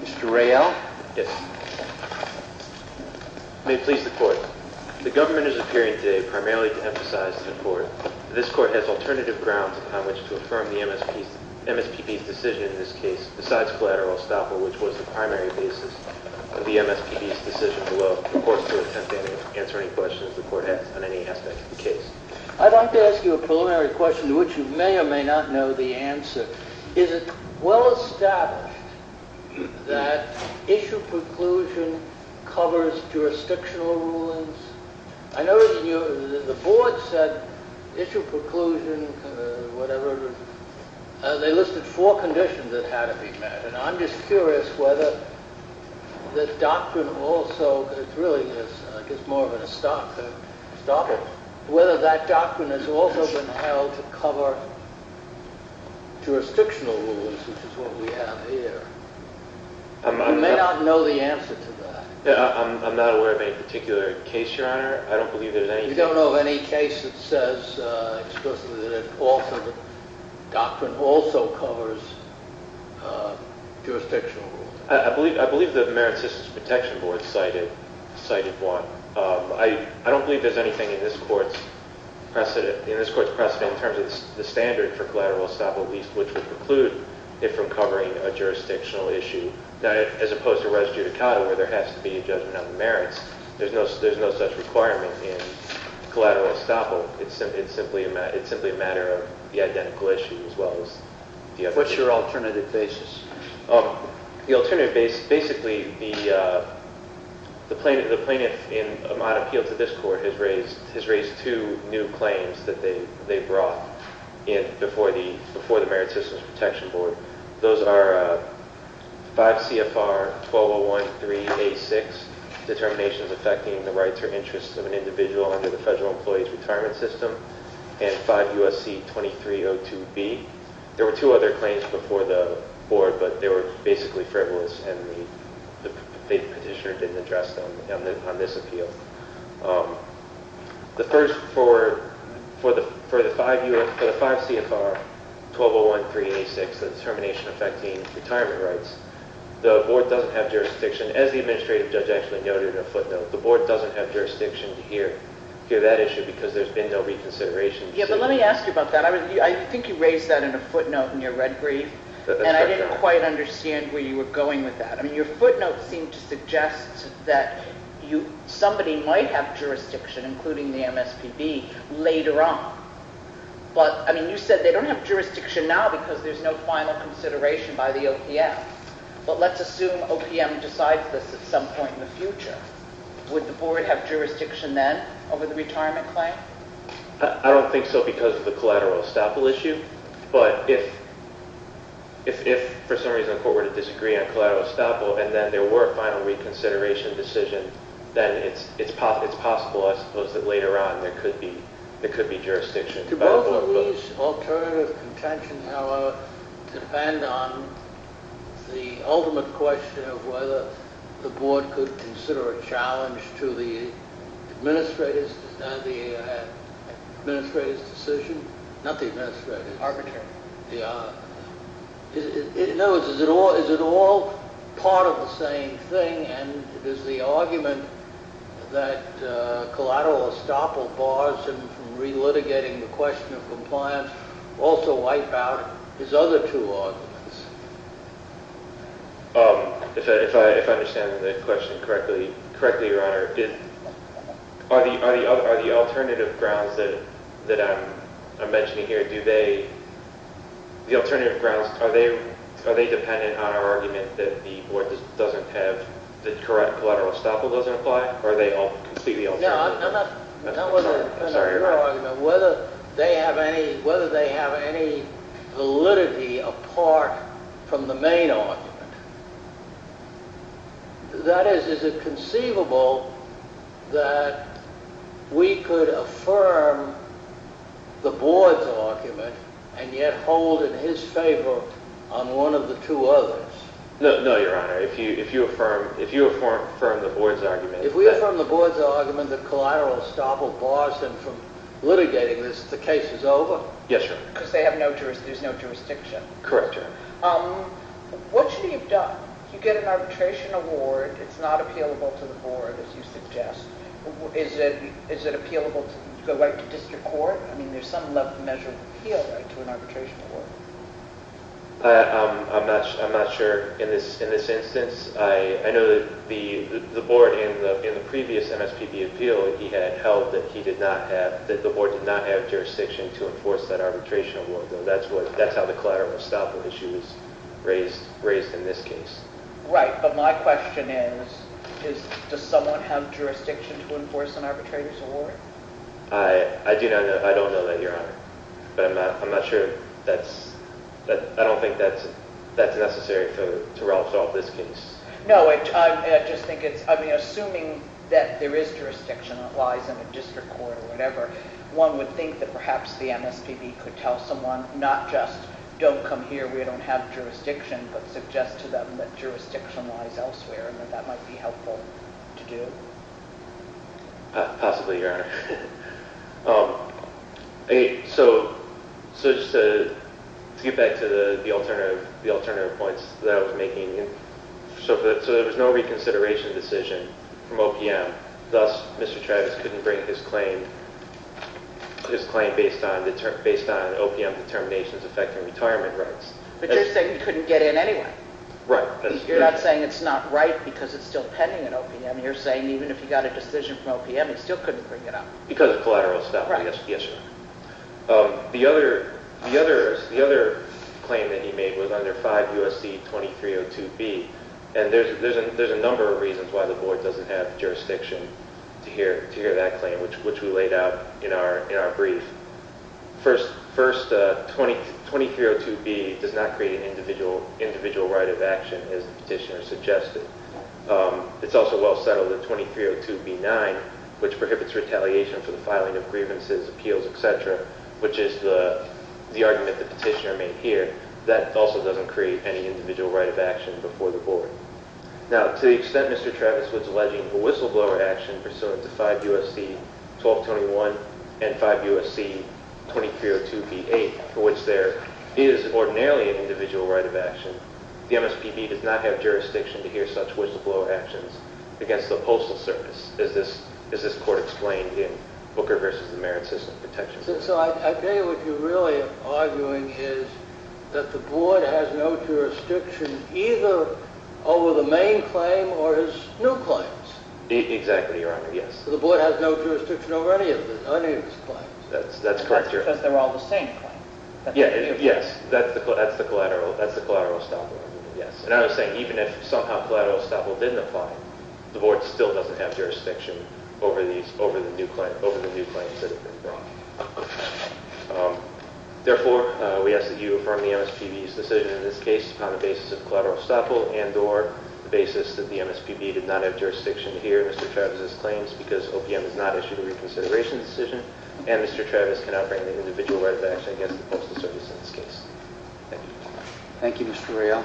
Mr. Ray L? May it please the court, the government is appearing today primarily to emphasize that this court has alternative grounds upon which to affirm the MSPB's decision in this case besides collateral estoppel, which was the primary basis of the MSPB's decision below. The court is to attempt to answer any questions the court has on any aspect of the case. I'd like to ask you a preliminary question to which you may or may not know the answer. Is it well established that issue preclusion covers jurisdictional rulings? I know the board said issue preclusion, whatever, they listed four conditions that had to be met. And I'm just curious whether the doctrine also, it's really just I guess more of an estoppel, whether that doctrine has also been held to cover jurisdictional rulings, which is what we have here. You may not know the answer to that. I'm not aware of any particular case, your honor. I don't believe that any case that says explicitly that the doctrine also covers jurisdictional rulings. I believe the Merit Systems Protection Board cited one. I don't believe there's anything in this court's precedent in terms of the standard for collateral estoppel, which would preclude it from covering a jurisdictional issue, as opposed to res judicata, where there has to be a judgment on the merits. There's no such requirement in collateral estoppel. It's simply a matter of the identical issue as well as the other. What's your alternative basis? The alternative basis, basically the plaintiff in my appeal to this court has raised two new claims that they brought in before the Merit Systems Protection Board. Those are 5 CFR 12013A6, Determinations Affecting the Rights or Interests of an Individual under the Federal Employees Retirement System, and 5 USC 2302B. There were two other claims before the board, but they were basically frivolous, and the petitioner didn't address them on this appeal. The first, for the 5 CFR 12013A6, the Determination Affecting Retirement Rights, the board doesn't have jurisdiction, as the administrative judge actually noted in a footnote, the board doesn't have jurisdiction to hear that issue because there's been no reconsideration. Yeah, but let me ask you about that. I think you raised that in a footnote in your red brief, and I didn't quite understand where you were going with that. I mean, your footnote seemed to suggest that somebody might have jurisdiction, including the MSPB, later on. But, I mean, you said they don't have jurisdiction now because there's no final consideration by the OPM. But let's assume OPM decides this at some point in the future. Would the board have jurisdiction then over the retirement claim? I don't think so because of the collateral estoppel issue, but if, for some reason, the court were to disagree on collateral estoppel, and then there were a final reconsideration decision, then it's possible, I suppose, that later on there could be jurisdiction. Do both of these alternative contentions, however, depend on the ultimate question of whether the board could consider a challenge to the administrator's decision? Not the administrator. Arbitrary. Yeah. In other words, is it all part of the same thing, and does the argument that collateral estoppel bars him from relitigating the question of compliance also wipe out his other two arguments? If I understand the question correctly, Your Honor, are the alternative grounds that I'm mentioning here, are they dependent on our argument that the board doesn't have the correct collateral estoppel, doesn't apply, or they all concede the alternative? No, I'm not talking about your argument. Whether they have any validity apart from the main argument. That is, is it conceivable that we could affirm the board's argument and yet hold in his favor on one of the two others? No, Your Honor, if you affirm the board's argument. If we affirm the board's argument that collateral estoppel bars him from litigating this, the case is over? Yes, Your Honor. Because there's no jurisdiction. Correct, Your Honor. What should he have done? You get an arbitration award. It's not appealable to the board, as you suggest. Is it appealable to the right to district court? I mean, there's some measure of appeal right to an arbitration award. I'm not sure. In this instance, I know that the board in the previous MSPB appeal, he had held that the board did not have jurisdiction to enforce that arbitration award. That's how the collateral estoppel issue is raised in this case. Right. But my question is, does someone have jurisdiction to enforce an arbitration award? I do not know. I don't know that, Your Honor. But I'm not sure. I don't think that's necessary to resolve this case. No, I just think it's, I mean, assuming that there is jurisdiction, it lies in a district court or whatever, one would think that perhaps the MSPB could tell someone, not just don't come here, we don't have jurisdiction, but suggest to them that jurisdiction lies elsewhere and that that might be helpful to do. Possibly, Your Honor. So just to get back to the alternative points that I was making, so there was no reconsideration decision from OPM. Thus, Mr. Travis couldn't bring his claim based on OPM determinations affecting retirement rights. But you're saying he couldn't get in anyway. Right. You're not saying it's not right because it's still pending at OPM. You're saying even if he got a decision from OPM, he still couldn't bring it up. Because of collateral estoppel. Right. Yes, Your Honor. The other claim that he made was under 5 U.S.C. 2302B, and there's a number of reasons why the board doesn't have jurisdiction to hear that claim, which we laid out in our brief. First, 2302B does not create an individual right of action as the petitioner suggested. It's also well settled that 2302B9, which prohibits retaliation for the filing of grievances, appeals, etc., which is the argument the petitioner made here, that also doesn't create any individual right of action before the board. Now, to the extent Mr. Travis was alleging a whistleblower action pursuant to 5 U.S.C. 1221 and 5 U.S.C. 2302B8, for which there is ordinarily an individual right of action, the MSPB does not have jurisdiction to hear such whistleblower actions against the Postal Service, as this court explained in Booker v. The Merit System protections. So I'd say what you're really arguing is that the board has no jurisdiction either over the main claim or his new claims. Exactly, Your Honor, yes. So the board has no jurisdiction over any of his claims. That's correct, Your Honor. Because they're all the same claims. Yes, that's the collateral estoppel argument, yes. And I was saying even if somehow collateral estoppel didn't apply, the board still doesn't have jurisdiction over the new claims that have been brought. Therefore, we ask that you affirm the MSPB's decision in this case upon the basis of collateral estoppel and or the basis that the MSPB did not have jurisdiction to hear Mr. Travis's claims because OPM has not issued a reconsideration decision and Mr. Travis cannot bring an individual right of action against the Postal Service in this case. Thank you. Thank you, Mr. Reale. Thank you.